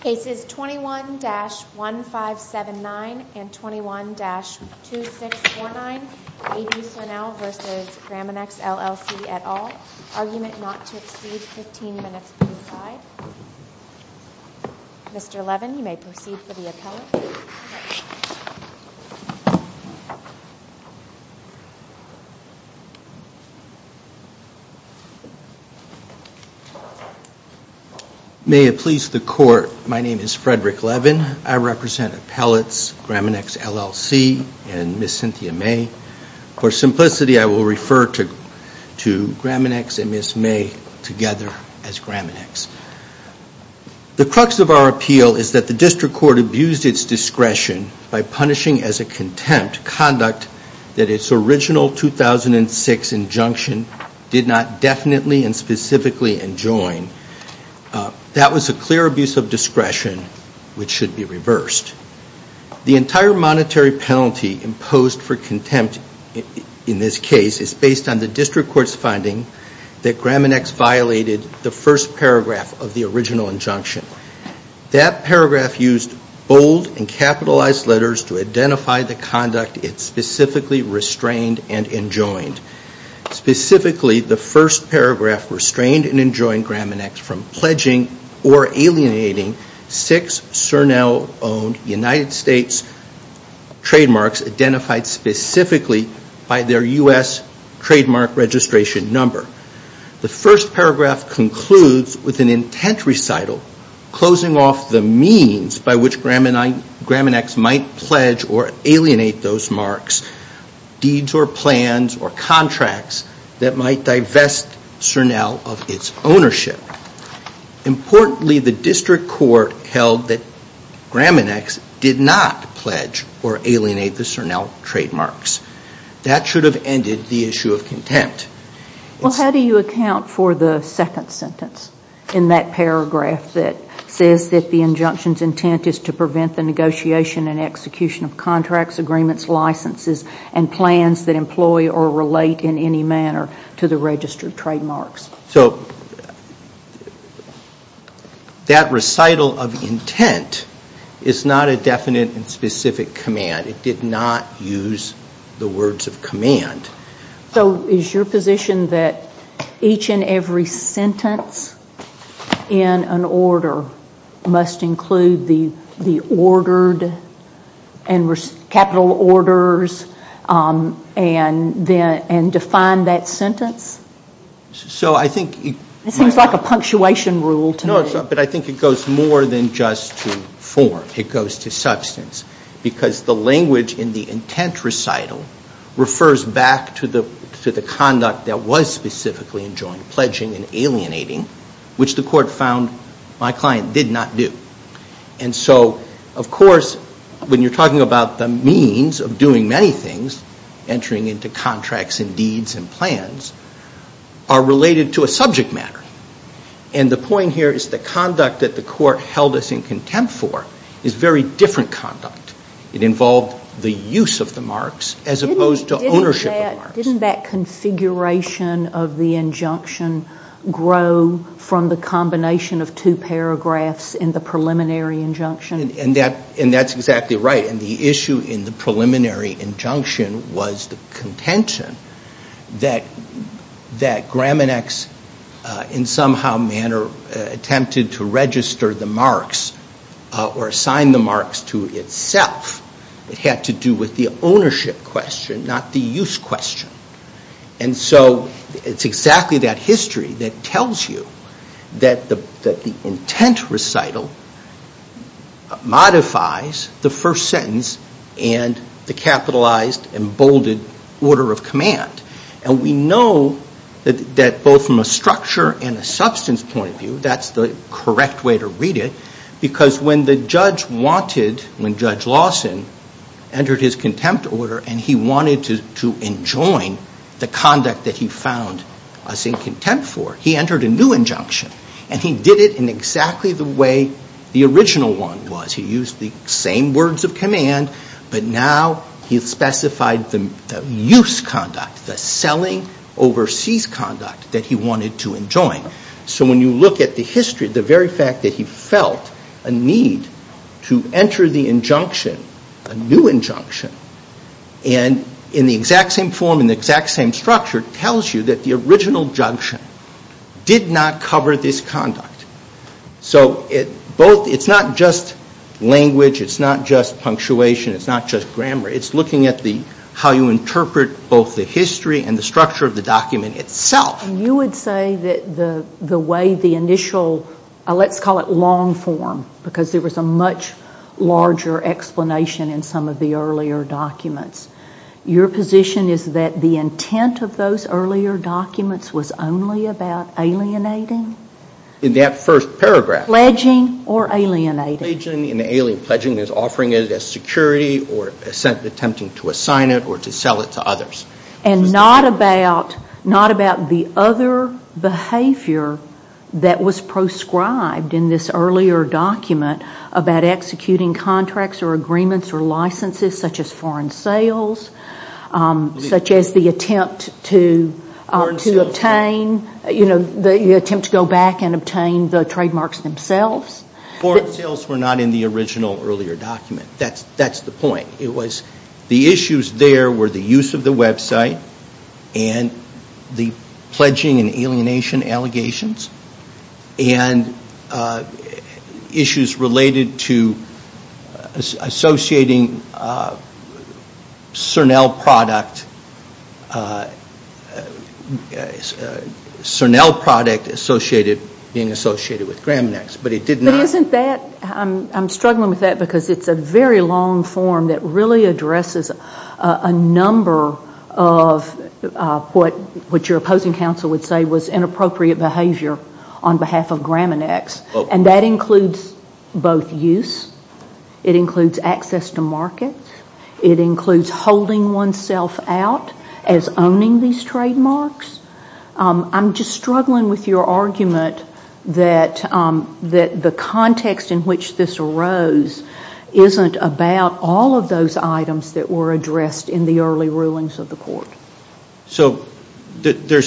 Cases 21-1579 and 21-2649 A B Cernelle v. Graminex LLC et al. Argument not to exceed 15 minutes per side. Mr. Levin, you may proceed for the appellate. May it please the court, my name is Frederick Levin. I represent appellates Graminex LLC and Ms. Cynthia May. For simplicity, I will refer to Graminex and Ms. May together as Graminex. The crux of our appeal is that the district court abused its discretion by punishing as a contempt conduct that its original 2006 injunction did not definitely and specifically enjoin. That was a clear abuse of discretion which should be reversed. The entire monetary penalty imposed for contempt in this case is based on the district court's finding that Graminex violated the first paragraph of the original injunction. That paragraph used bold and capitalized letters to identify the conduct it specifically restrained and enjoined. The United States trademarks identified specifically by their U.S. trademark registration number. The first paragraph concludes with an intent recital closing off the means by which Graminex might pledge or alienate those marks, deeds or plans or contracts that might divest Cernelle of its ownership. Importantly, the district court held that Graminex did not pledge or alienate the Cernelle trademarks. That should have ended the issue of contempt. How do you account for the second sentence in that paragraph that says that the injunction's intent is to prevent the negotiation and execution of contracts, agreements, licenses and plans that employ or relate in any manner to the registered trademarks? That recital of intent is not a definite and specific command. It did not use the words of command. Is your position that each and every sentence in an order must include the capital orders and define that sentence? This seems like a punctuation rule to me. No, but I think it goes more than just to form. It goes to substance. Because the language in the intent recital refers back to the conduct that was specifically enjoined, pledging and alienating, which the court found my client did not do. And so, of course, when you're talking about the means of doing many things, entering into contracts and deeds and plans, are related to a subject matter. And the point here is the conduct that the court held us in contempt for is very different conduct. It involved the use of the marks as opposed to ownership of the marks. Didn't that configuration of the injunction grow from the combination of two paragraphs in the preliminary injunction? And that's exactly right. And the issue in the preliminary injunction was the contention that Graminex in some manner attempted to register the marks or assign the marks to itself. It had to do with the ownership question, not the use question. And so it's exactly that history that tells you that the intent recital modifies the first sentence and the capitalized and bolded order of command. And we know that both from a structure and a substance point of view, that's the correct way to read it. Because when the judge wanted, when Judge Lawson entered his contempt order and he wanted to enjoin the conduct that he found us in contempt for, he entered a new injunction. And he did it in exactly the way the original one was. He used the same words of command, but now he specified the use conduct, the selling overseas conduct that he wanted to enjoin. So when you look at the history, the very fact that he felt a need to enter the injunction, a new injunction, and in the exact same form, in the exact same structure, tells you that the original injunction did not cover this conduct. So it's not just language, it's not just punctuation, it's not just grammar. It's looking at how you interpret both the history and the structure of the document itself. But you would say that the way the initial, let's call it long form, because there was a much larger explanation in some of the earlier documents, your position is that the intent of those earlier documents was only about alienating? In that first paragraph. Pledging or alienating? Pledging and alien pledging is offering it as security or attempting to assign it or to sell it to others. And not about the other behavior that was proscribed in this earlier document about executing contracts or agreements or licenses such as foreign sales, such as the attempt to go back and obtain the trademarks themselves? Foreign sales were not in the original earlier document. That's the point. It was the issues there were the use of the website and the pledging and alienation allegations. And issues related to associating Cernel product, Cernel product associated, being associated with Graminex. But isn't that, I'm struggling with that because it's a very long form that really addresses a number of what your opposing counsel would say was inappropriate behavior on behalf of Graminex. And that includes both use, it includes access to markets, it includes holding oneself out as owning these trademarks. I'm just struggling with your argument that the context in which this arose isn't about all of those items that were addressed in the early rulings of the court. That was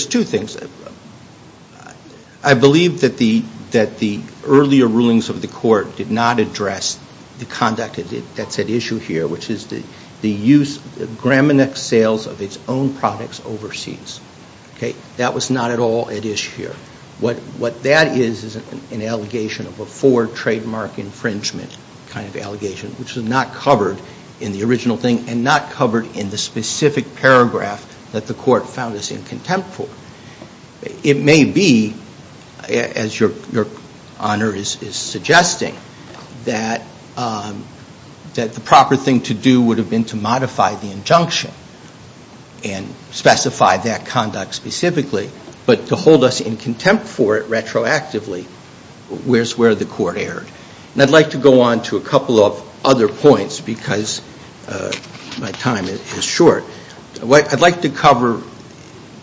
not at all at issue here. What that is is an allegation of a forward trademark infringement kind of allegation which was not covered in the original thing and not covered in the specific paragraph that the court found us in contempt for. It may be, as your honor is suggesting, that the proper thing to do would have been to modify the injunction and specify that conduct specifically. But to hold us in contempt for it retroactively, where's where the court erred. And I'd like to go on to a couple of other points because my time is short. What I'd like to cover,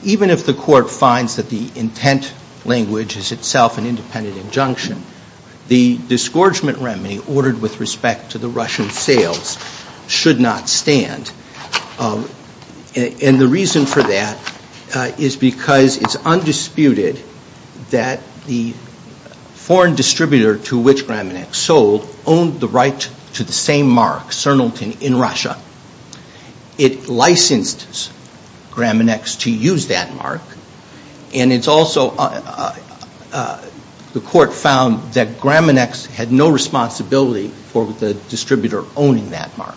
even if the court finds that the intent language is itself an independent injunction, the disgorgement remedy ordered with respect to the Russian sales should not stand. And the reason for that is because it's undisputed that the foreign distributor to which Graminex sold owned the right to the same mark, Sernalton, in Russia. It licensed Graminex to use that mark. And it's also, the court found that Graminex had no responsibility for the distributor owning that mark.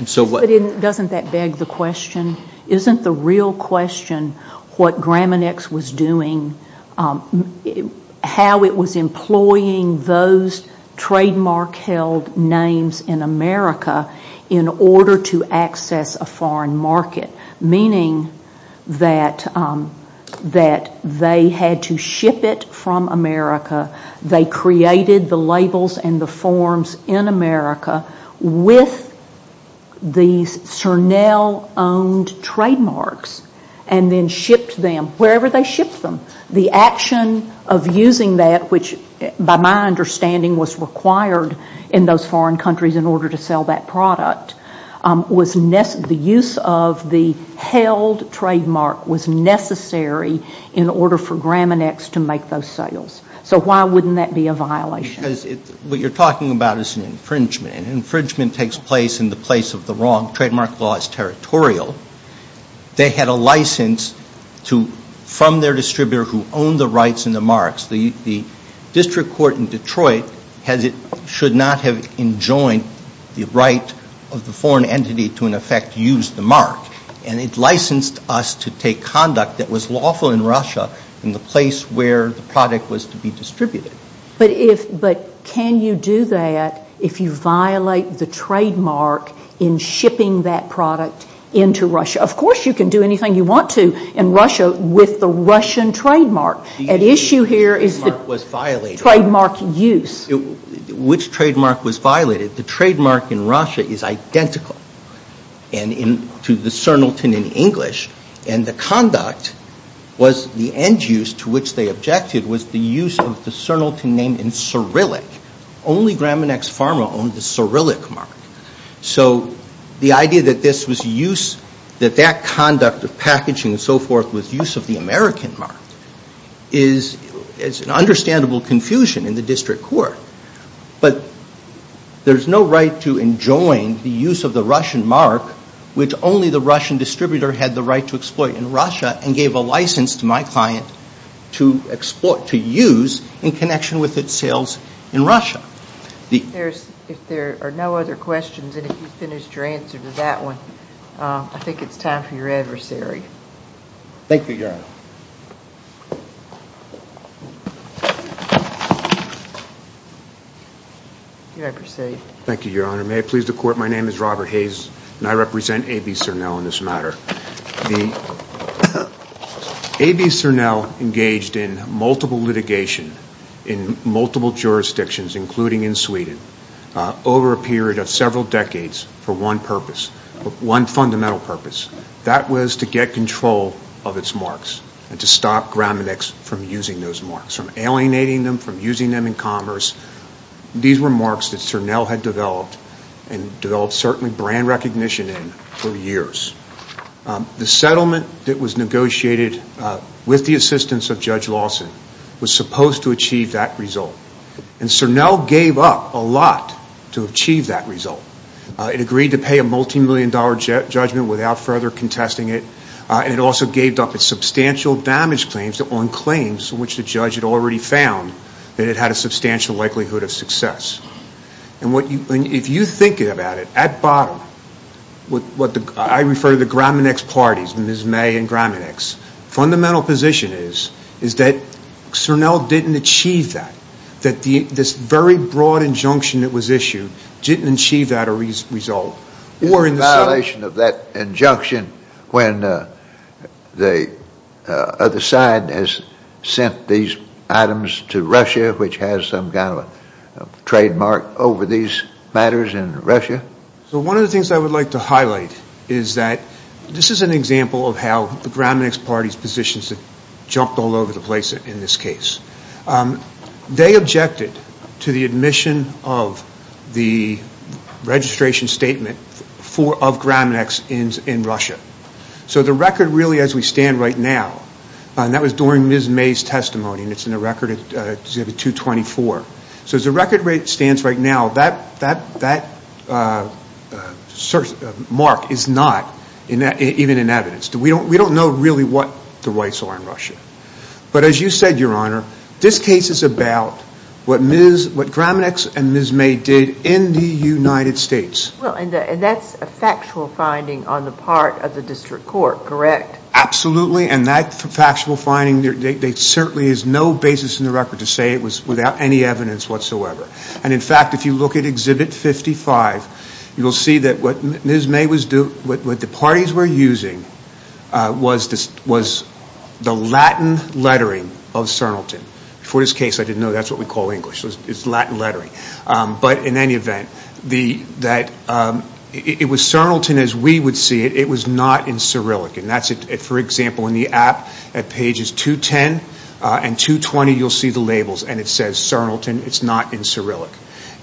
But doesn't that beg the question, isn't the real question what Graminex was doing, how it was employing those trademark held names in America in order to access a foreign market. Meaning that they had to ship it from America, they created the labels and the forms in America with these Sernal owned trademarks and then shipped them wherever they shipped them. The action of using that, which by my understanding was required in those foreign countries in order to sell that product, was the use of the held trademark was necessary in order for Graminex to make those sales. So why wouldn't that be a violation? Because what you're talking about is an infringement. An infringement takes place in the place of the wrong. Trademark law is territorial. They had a license from their distributor who owned the rights and the marks. The district court in Detroit should not have enjoined the right of the foreign entity to in effect use the mark. And it licensed us to take conduct that was lawful in Russia in the place where the product was to be distributed. But can you do that if you violate the trademark in shipping that product into Russia? Of course you can do anything you want to in Russia with the Russian trademark. The issue here is the trademark use. Which trademark was violated? The trademark in Russia is identical to the Sernalton in English. And the conduct was the end use to which they objected was the use of the Sernalton name in Cyrillic. Only Graminex Pharma owned the Cyrillic mark. So the idea that this was use, that that conduct of packaging and so forth was use of the American mark, is an understandable confusion in the district court. But there's no right to enjoin the use of the Russian mark, which only the Russian distributor had the right to exploit in Russia, and gave a license to my client to use in connection with its sales in Russia. If there are no other questions, and if you finished your answer to that one, I think it's time for your adversary. Thank you, Your Honor. May I proceed? Thank you, Your Honor. May I please the Court? My name is Robert Hayes, and I represent A.B. Sernal in this matter. A.B. Sernal engaged in multiple litigation in multiple jurisdictions, including in Sweden, over a period of several decades for one purpose, one fundamental purpose. That was to get control of its marks, and to stop Graminex from using those marks, from alienating them, from using them in commerce. These were marks that Sernal had developed, and developed certainly brand recognition in, for years. The settlement that was negotiated with the assistance of Judge Lawson was supposed to achieve that result. And Sernal gave up a lot to achieve that result. It agreed to pay a multimillion dollar judgment without further contesting it, and it also gave up its substantial damage claims on claims which the judge had already found that it had a substantial likelihood of success. And if you think about it, at bottom, I refer to the Graminex parties, Ms. May and Graminex. Fundamental position is, is that Sernal didn't achieve that. That this very broad injunction that was issued didn't achieve that result. It's a violation of that injunction when the other side has sent these items to Russia, which has some kind of a trademark over these matters in Russia. So one of the things I would like to highlight is that, this is an example of how the Graminex parties' positions have jumped all over the place in this case. They objected to the admission of the registration statement of Graminex in Russia. So the record really as we stand right now, and that was during Ms. May's testimony, and it's in the Record Exhibit 224. So as the record stands right now, that mark is not even in evidence. We don't know really what the rights are in Russia. But as you said, Your Honor, this case is about what Graminex and Ms. May did in the United States. Well, and that's a factual finding on the part of the District Court, correct? Absolutely, and that factual finding, there certainly is no basis in the record to say it was without any evidence whatsoever. And in fact, if you look at Exhibit 55, you'll see that what Ms. May was doing, what the parties were using was the Latin lettering of CERNLTN. For this case, I didn't know that's what we call English. It's Latin lettering. But in any event, it was CERNLTN as we would see it. It was not in Cyrillic. For example, in the app at pages 210 and 220, you'll see the labels, and it says CERNLTN, it's not in Cyrillic.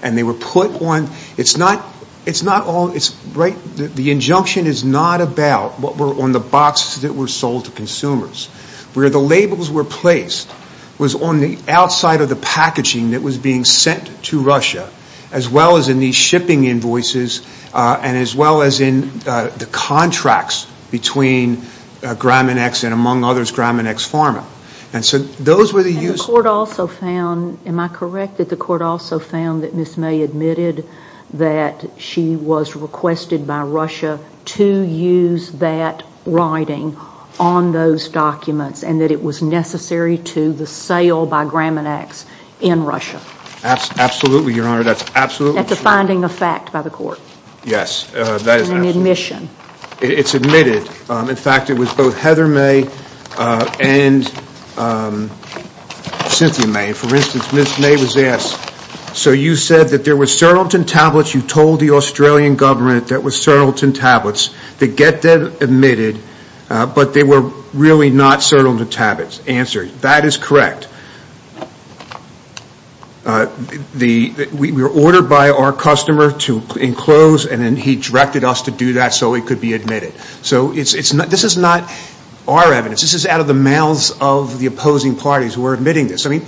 And they were put on, it's not all, the injunction is not about what were on the boxes that were sold to consumers. Where the labels were placed was on the outside of the packaging that was being sent to Russia, as well as in these shipping invoices, and as well as in the contracts between Graminex and, among others, Graminex Pharma. And so those were the uses. The court also found, am I correct, that the court also found that Ms. May admitted that she was requested by Russia to use that writing on those documents, and that it was necessary to the sale by Graminex in Russia. Absolutely, Your Honor, that's absolutely true. That's a finding of fact by the court. Yes, that is absolutely true. And an admission. It's admitted. In fact, it was both Heather May and Cynthia May. For instance, Ms. May was asked, so you said that there were CERNLTN tablets, you told the Australian government that was CERNLTN tablets, to get them admitted, but they were really not CERNLTN tablets. Answer, that is correct. We were ordered by our customer to enclose, and then he directed us to do that so it could be admitted. So this is not our evidence. This is out of the mouths of the opposing parties who are admitting this. I mean,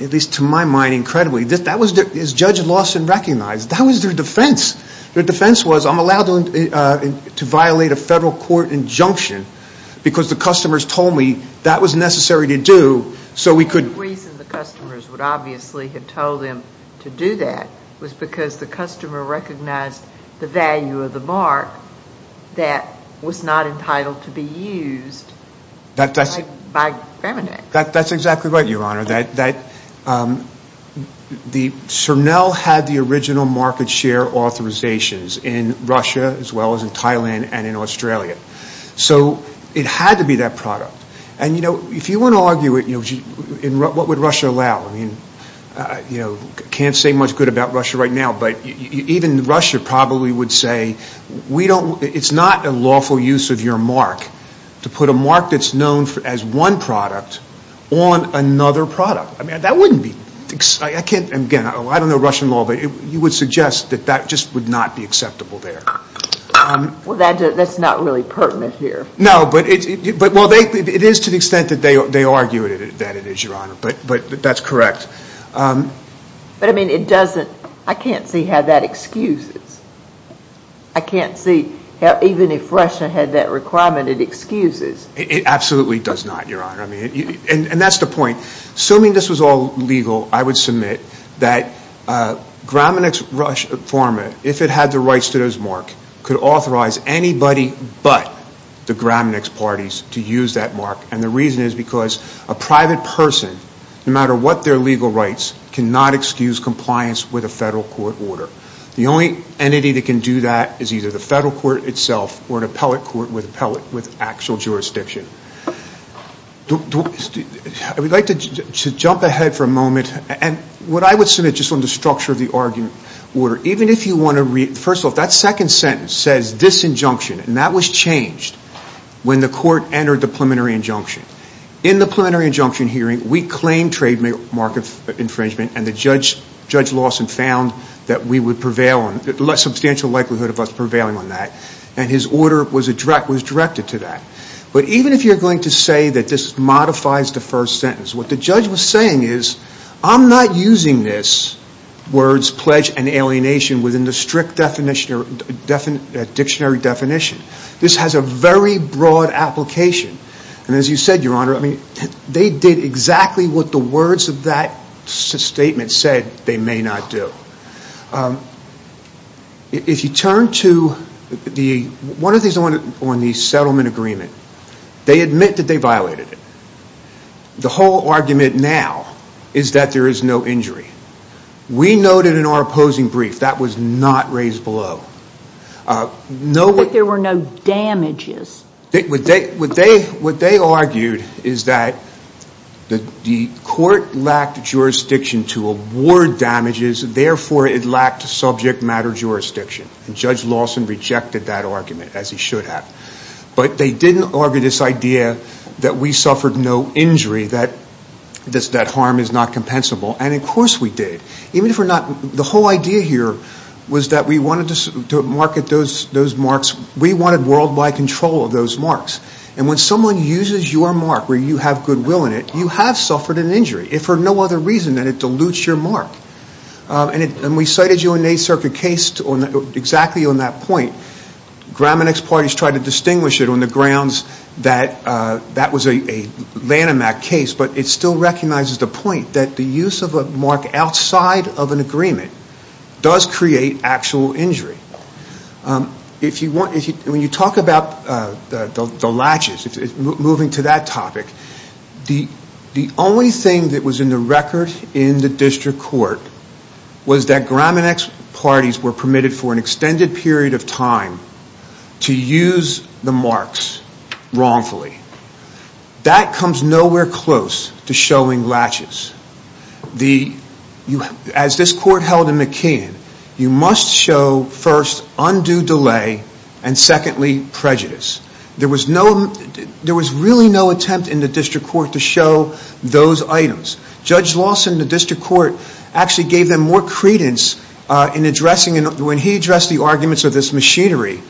at least to my mind, incredibly. That was, as Judge Lawson recognized, that was their defense. Their defense was, I'm allowed to violate a federal court injunction because the customers told me that was necessary to do, so we couldn't. The reason the customers would obviously have told them to do that was because the customer recognized the value of the mark that was not entitled to be used by Gramenac. That's exactly right, Your Honor. The CERNLTN had the original market share authorizations in Russia as well as in Thailand and in Australia. So it had to be that product. And, you know, if you want to argue it, what would Russia allow? I mean, I can't say much good about Russia right now, but even Russia probably would say, it's not a lawful use of your mark to put a mark that's known as one product on another product. I mean, that wouldn't be, I don't know Russian law, but you would suggest that that just would not be acceptable there. Well, that's not really pertinent here. No, but it is to the extent that they argue that it is, Your Honor, but that's correct. But, I mean, it doesn't, I can't see how that excuses. I can't see how even if Russia had that requirement, it excuses. It absolutely does not, Your Honor. And that's the point. Assuming this was all legal, I would submit that Gramenac's Russian informant, if it had the rights to those marks, could authorize anybody but the Gramenac's parties to use that mark. And the reason is because a private person, no matter what their legal rights, cannot excuse compliance with a federal court order. The only entity that can do that is either the federal court itself or an appellate court with actual jurisdiction. I would like to jump ahead for a moment. And what I would submit, just on the structure of the argument, even if you want to read, first of all, that second sentence says this injunction. And that was changed when the court entered the preliminary injunction. In the preliminary injunction hearing, we claimed trademark infringement and Judge Lawson found that we would prevail, a substantial likelihood of us prevailing on that. And his order was directed to that. But even if you're going to say that this modifies the first sentence, what the judge was saying is, I'm not using this words, pledge, and alienation within the strict dictionary definition. This has a very broad application. And as you said, Your Honor, they did exactly what the words of that statement said they may not do. If you turn to one of these on the settlement agreement, they admit that they violated it. The whole argument now is that there is no injury. We noted in our opposing brief that was not raised below. But there were no damages. What they argued is that the court lacked jurisdiction to award damages, therefore it lacked subject matter jurisdiction. And Judge Lawson rejected that argument, as he should have. But they didn't argue this idea that we suffered no injury, that harm is not compensable, and of course we did. The whole idea here was that we wanted to market those marks. We wanted worldwide control of those marks. And when someone uses your mark where you have goodwill in it, you have suffered an injury for no other reason than it dilutes your mark. And we cited you in the 8th Circuit case exactly on that point. Graminex parties tried to distinguish it on the grounds that that was a Lanham Act case, but it still recognizes the point that the use of a mark outside of an agreement does create actual injury. When you talk about the latches, moving to that topic, the only thing that was in the record in the district court was that Graminex parties were permitted for an extended period of time to use the marks wrongfully. That comes nowhere close to showing latches. As this court held in McKeon, you must show, first, undue delay, and secondly, prejudice. There was really no attempt in the district court to show those items. Judge Lawson, the district court, actually gave them more credence when he addressed the arguments of this machinery.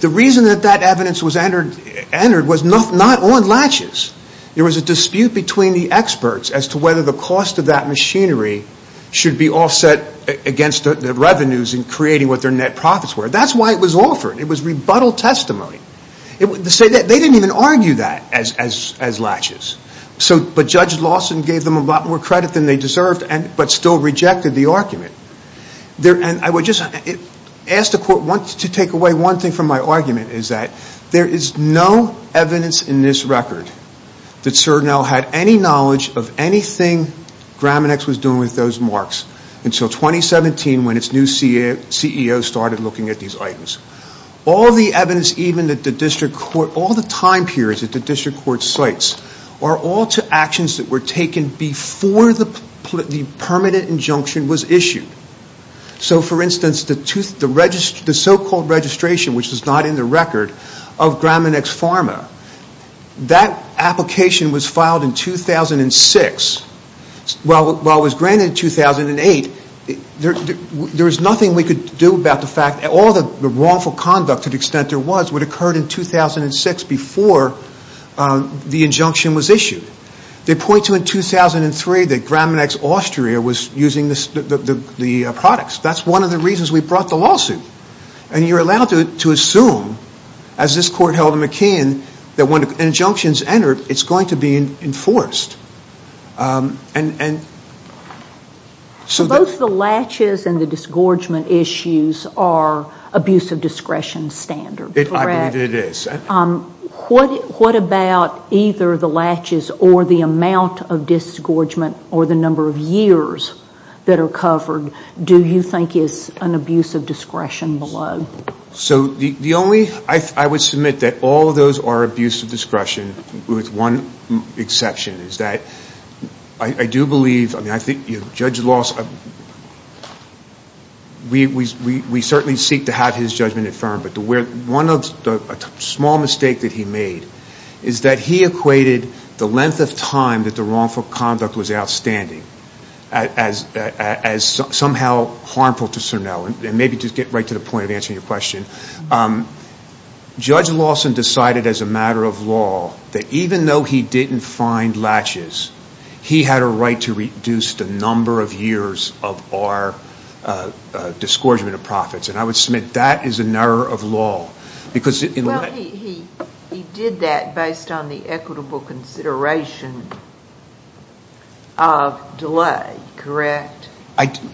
The reason that that evidence was entered was not on latches. There was a dispute between the experts as to whether the cost of that machinery should be offset against the revenues in creating what their net profits were. That's why it was offered. It was rebuttal testimony. They didn't even argue that as latches. Judge Lawson gave them a lot more credit than they deserved, but still rejected the argument. I would just ask the court to take away one thing from my argument. There is no evidence in this record that Cernel had any knowledge of anything Graminex was doing with those marks until 2017 when its new CEO started looking at these items. All the evidence, even at the district court, all the time periods at the district court sites, are all to actions that were taken before the permanent injunction was issued. So, for instance, the so-called registration, which is not in the record, of Graminex Pharma, that application was filed in 2006. While it was granted in 2008, there was nothing we could do about the fact that all the wrongful conduct to the extent there was, would have occurred in 2006 before the injunction was issued. They point to in 2003 that Graminex Austria was using the products. That's one of the reasons we brought the lawsuit. And you're allowed to assume, as this court held in McKeon, that when an injunction is entered, it's going to be enforced. And... So both the latches and the disgorgement issues are abuse of discretion standards, correct? I believe it is. What about either the latches or the amount of disgorgement or the number of years that are covered, do you think is an abuse of discretion below? With one exception, is that I do believe... Judge Lawson... We certainly seek to have his judgment affirmed, but one small mistake that he made is that he equated the length of time that the wrongful conduct was outstanding as somehow harmful to Cernel. And maybe just get right to the point of answering your question. Judge Lawson decided as a matter of law that even though he didn't find latches, he had a right to reduce the number of years of our disgorgement of profits. And I would submit that is an error of law. Well, he did that based on the equitable consideration of delay, correct?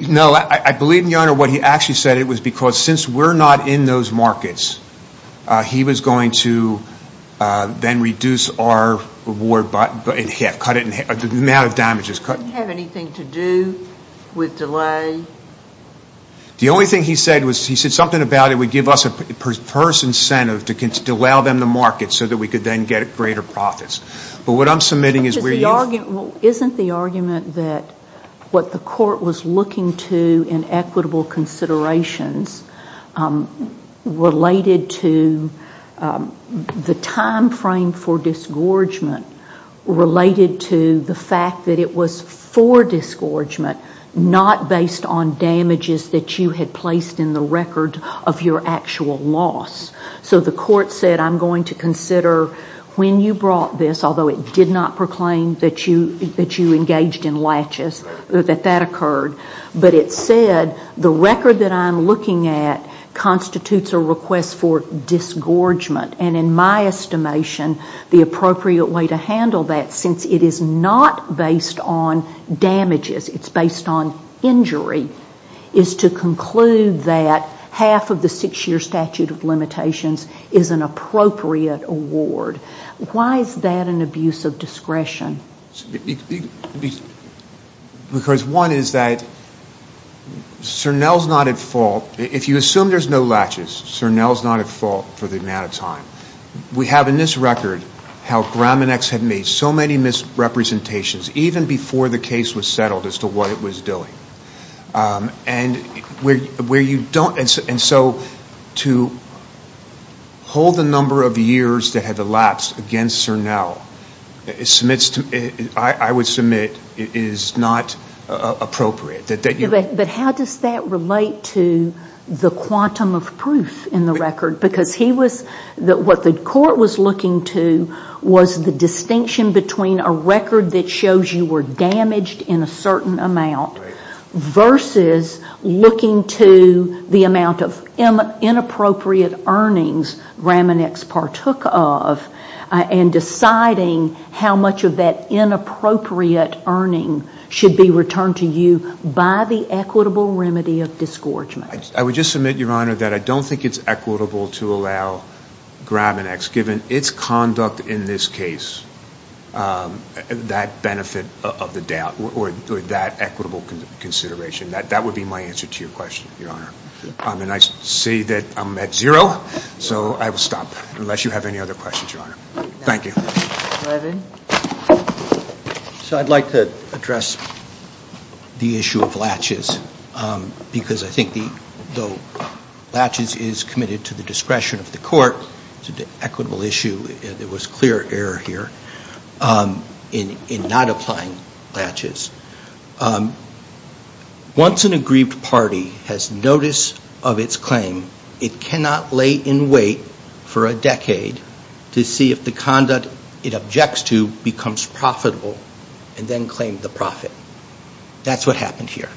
No, I believe, Your Honor, what he actually said was that it was because since we're not in those markets, he was going to then reduce our reward, cut it in half, the amount of damages cut. Did it have anything to do with delay? The only thing he said was, he said something about it would give us a first incentive to allow them the market so that we could then get greater profits. But what I'm submitting is... Isn't the argument that what the court was looking to do in equitable considerations related to the time frame for disgorgement related to the fact that it was for disgorgement, not based on damages that you had placed in the record of your actual loss. So the court said, I'm going to consider when you brought this, although it did not proclaim that you engaged in latches, that that occurred. But it said, the record that I'm looking at constitutes a request for disgorgement. And in my estimation, the appropriate way to handle that, since it is not based on damages, it's based on injury, is to conclude that half of the six-year statute of limitations is an appropriate award. Why is that an abuse of discretion? Because one is that Cernel's not at fault. If you assume there's no latches, Cernel's not at fault for the amount of time. We have in this record how Graminex had made so many misrepresentations, even before the case was settled as to what it was doing. And where you don't... And so to hold the number of years that had elapsed against Cernel, I would submit, is not appropriate. But how does that relate to the quantum of proof in the record? Because what the court was looking to was the distinction between a record that shows you were damaged in a certain amount versus looking to the amount of inappropriate earnings Graminex partook of, and deciding how much of that inappropriate earning should be returned to you by the equitable remedy of discouragement. I would just submit, Your Honor, that I don't think it's equitable to allow Graminex, given its conduct in this case, that benefit of the doubt, or that equitable consideration. That would be my answer to your question, Your Honor. And I see that I'm at zero, so I will stop, unless you have any other questions, Your Honor. Thank you. So I'd like to address the issue of latches. Because I think the... Though latches is committed to the discretion of the court, it's an equitable issue. There was clear error here in not applying latches. Once an aggrieved party has notice of its claim, it cannot lay in wait for a decade to see if the conduct it objects to becomes profitable and then claim the profit. That's what happened here.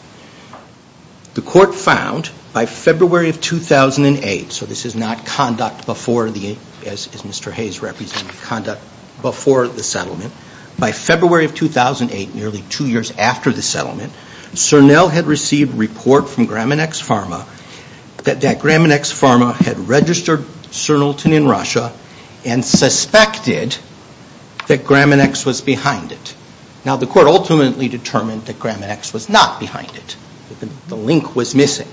The court found, by February of 2008, so this is not conduct before the... as Mr. Hayes represented conduct before the settlement. By February of 2008, nearly two years after the settlement, Cernel had received report from Graminex Pharma that that Graminex Pharma had registered Cernelton in Russia and suspected that Graminex was behind it. Now, the court ultimately determined that Graminex was not behind it. The link was missing.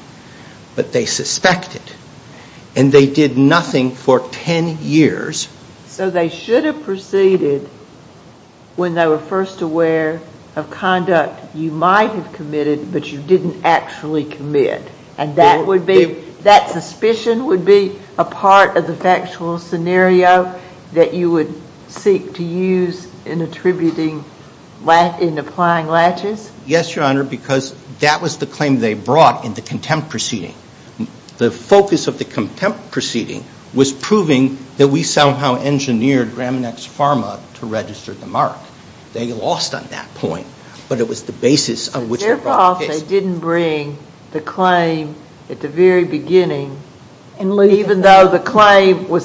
But they suspected. And they did nothing for ten years. So they should have proceeded when they were first aware of conduct you might have committed, but you didn't actually commit. So that would be... that suspicion would be a part of the factual scenario that you would seek to use in attributing... in applying latches? Yes, Your Honor, because that was the claim they brought in the contempt proceeding. The focus of the contempt proceeding was proving that we somehow engineered Graminex Pharma to register the mark. They lost on that point, but it was the basis on which... They didn't bring the claim at the very beginning, even though the claim would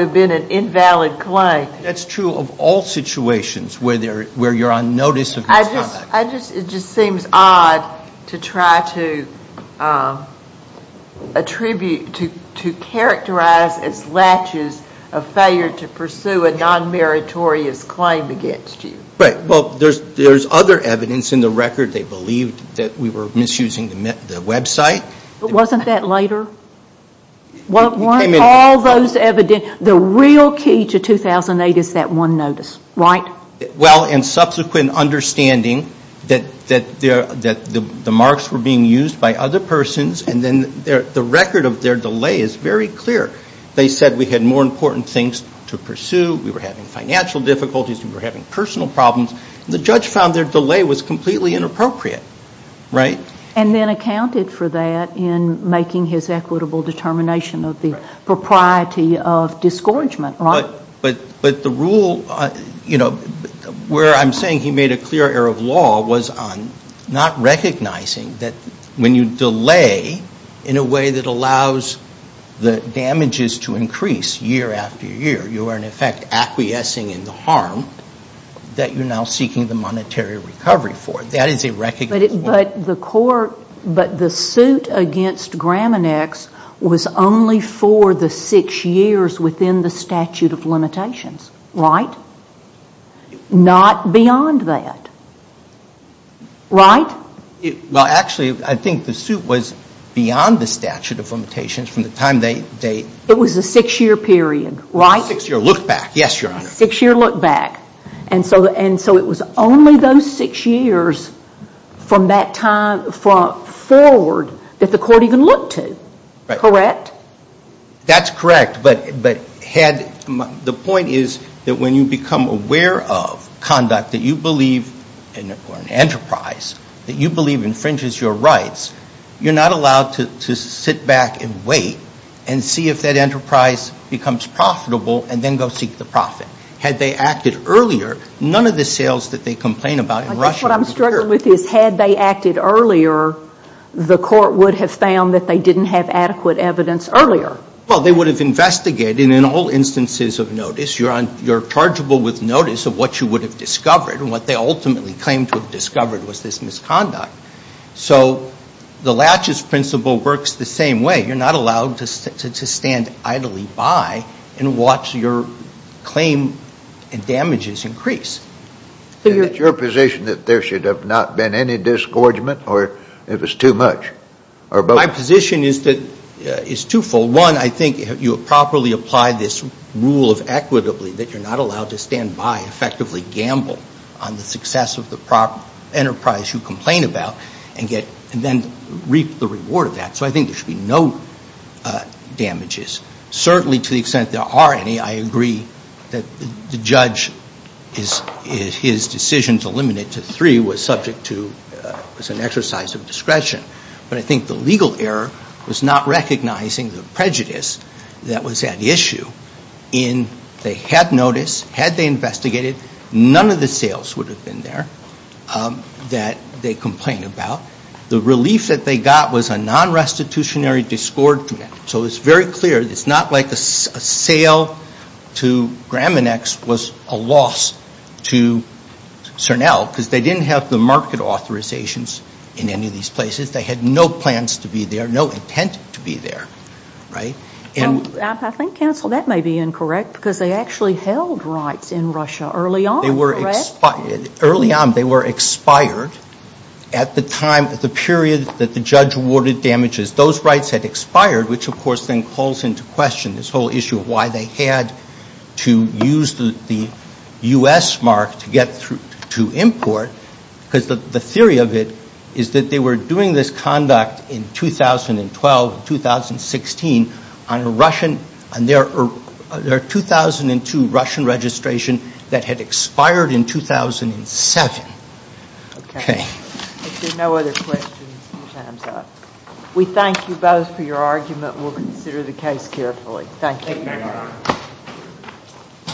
have been an invalid claim. That's true of all situations where you're on notice of misconduct. I just... it just seems odd to try to attribute... to characterize as latches a failure to pursue a non-meritorious claim against you. Right. Well, there's other evidence in the record they believed that we were misusing the website. Wasn't that later? Weren't all those evidence... The real key to 2008 is that one notice, right? Well, in subsequent understanding that the marks were being used by other persons and then the record of their delay is very clear. They said we had more important things to pursue. We were having financial difficulties. We were having personal problems. The judge found their delay was completely inappropriate. Right? And then accounted for that in making his equitable determination of the propriety of discouragement, right? But the rule... Where I'm saying he made a clear error of law was on not recognizing that when you delay in a way that allows the damages to increase year after year, you are in effect acquiescing in the harm that you're now seeking the monetary recovery for. That is a recognition... But the court... But the suit against Graminex was only for the six years within the statute of limitations. Right? Not beyond that. Right? Well, actually, I think the suit was beyond the statute of limitations from the time they... It was a six-year period, right? A six-year look back. Yes, Your Honor. And so it was only those six years from that time forward that the court even looked to. Correct? That's correct. But the point is that when you become aware of conduct that you believe... Or an enterprise that you believe infringes your rights, you're not allowed to sit back and wait and see if that enterprise becomes profitable and then go seek the profit. Because earlier, none of the sales that they complain about in Russia... I guess what I'm struggling with is had they acted earlier, the court would have found that they didn't have adequate evidence earlier. Well, they would have investigated in all instances of notice. You're chargeable with notice of what you would have discovered. And what they ultimately claimed to have discovered was this misconduct. So the laches principle works the same way. You're not allowed to stand idly by and watch your claim and damages increase. Is it your position that there should have not been any disgorgement or it was too much? My position is twofold. One, I think you properly apply this rule of equitably that you're not allowed to stand by and effectively gamble on the success of the enterprise you complain about and then reap the reward of that. So I think there should be no damages. Certainly to the extent there are any, I agree that the judge is his decision to limit it to three was subject to an exercise of discretion. But I think the legal error was not recognizing the prejudice that was at issue in they had notice, had they investigated, none of the sales would have been there that they complained about. The relief that they got was a non-restitutionary disgorgement. So it's very clear it's not like a sale to Graminex was a loss to CERNEL because they didn't have the market authorizations in any of these places. They had no plans to be there, no intent to be there. I think, counsel, that may be incorrect because they actually held rights in Russia early on. Early on they were expired at the time, at the period that the judge awarded damages. Because those rights had expired, which of course then calls into question this whole issue of why they had to use the U.S. mark to get through to import because the theory of it is that they were doing this conduct in 2012 and 2016 on a Russian, on their 2002 Russian registration that had expired in 2007. Okay. If there are no other questions, your time is up. We thank you both for your argument and we'll consider the case carefully. Thank you.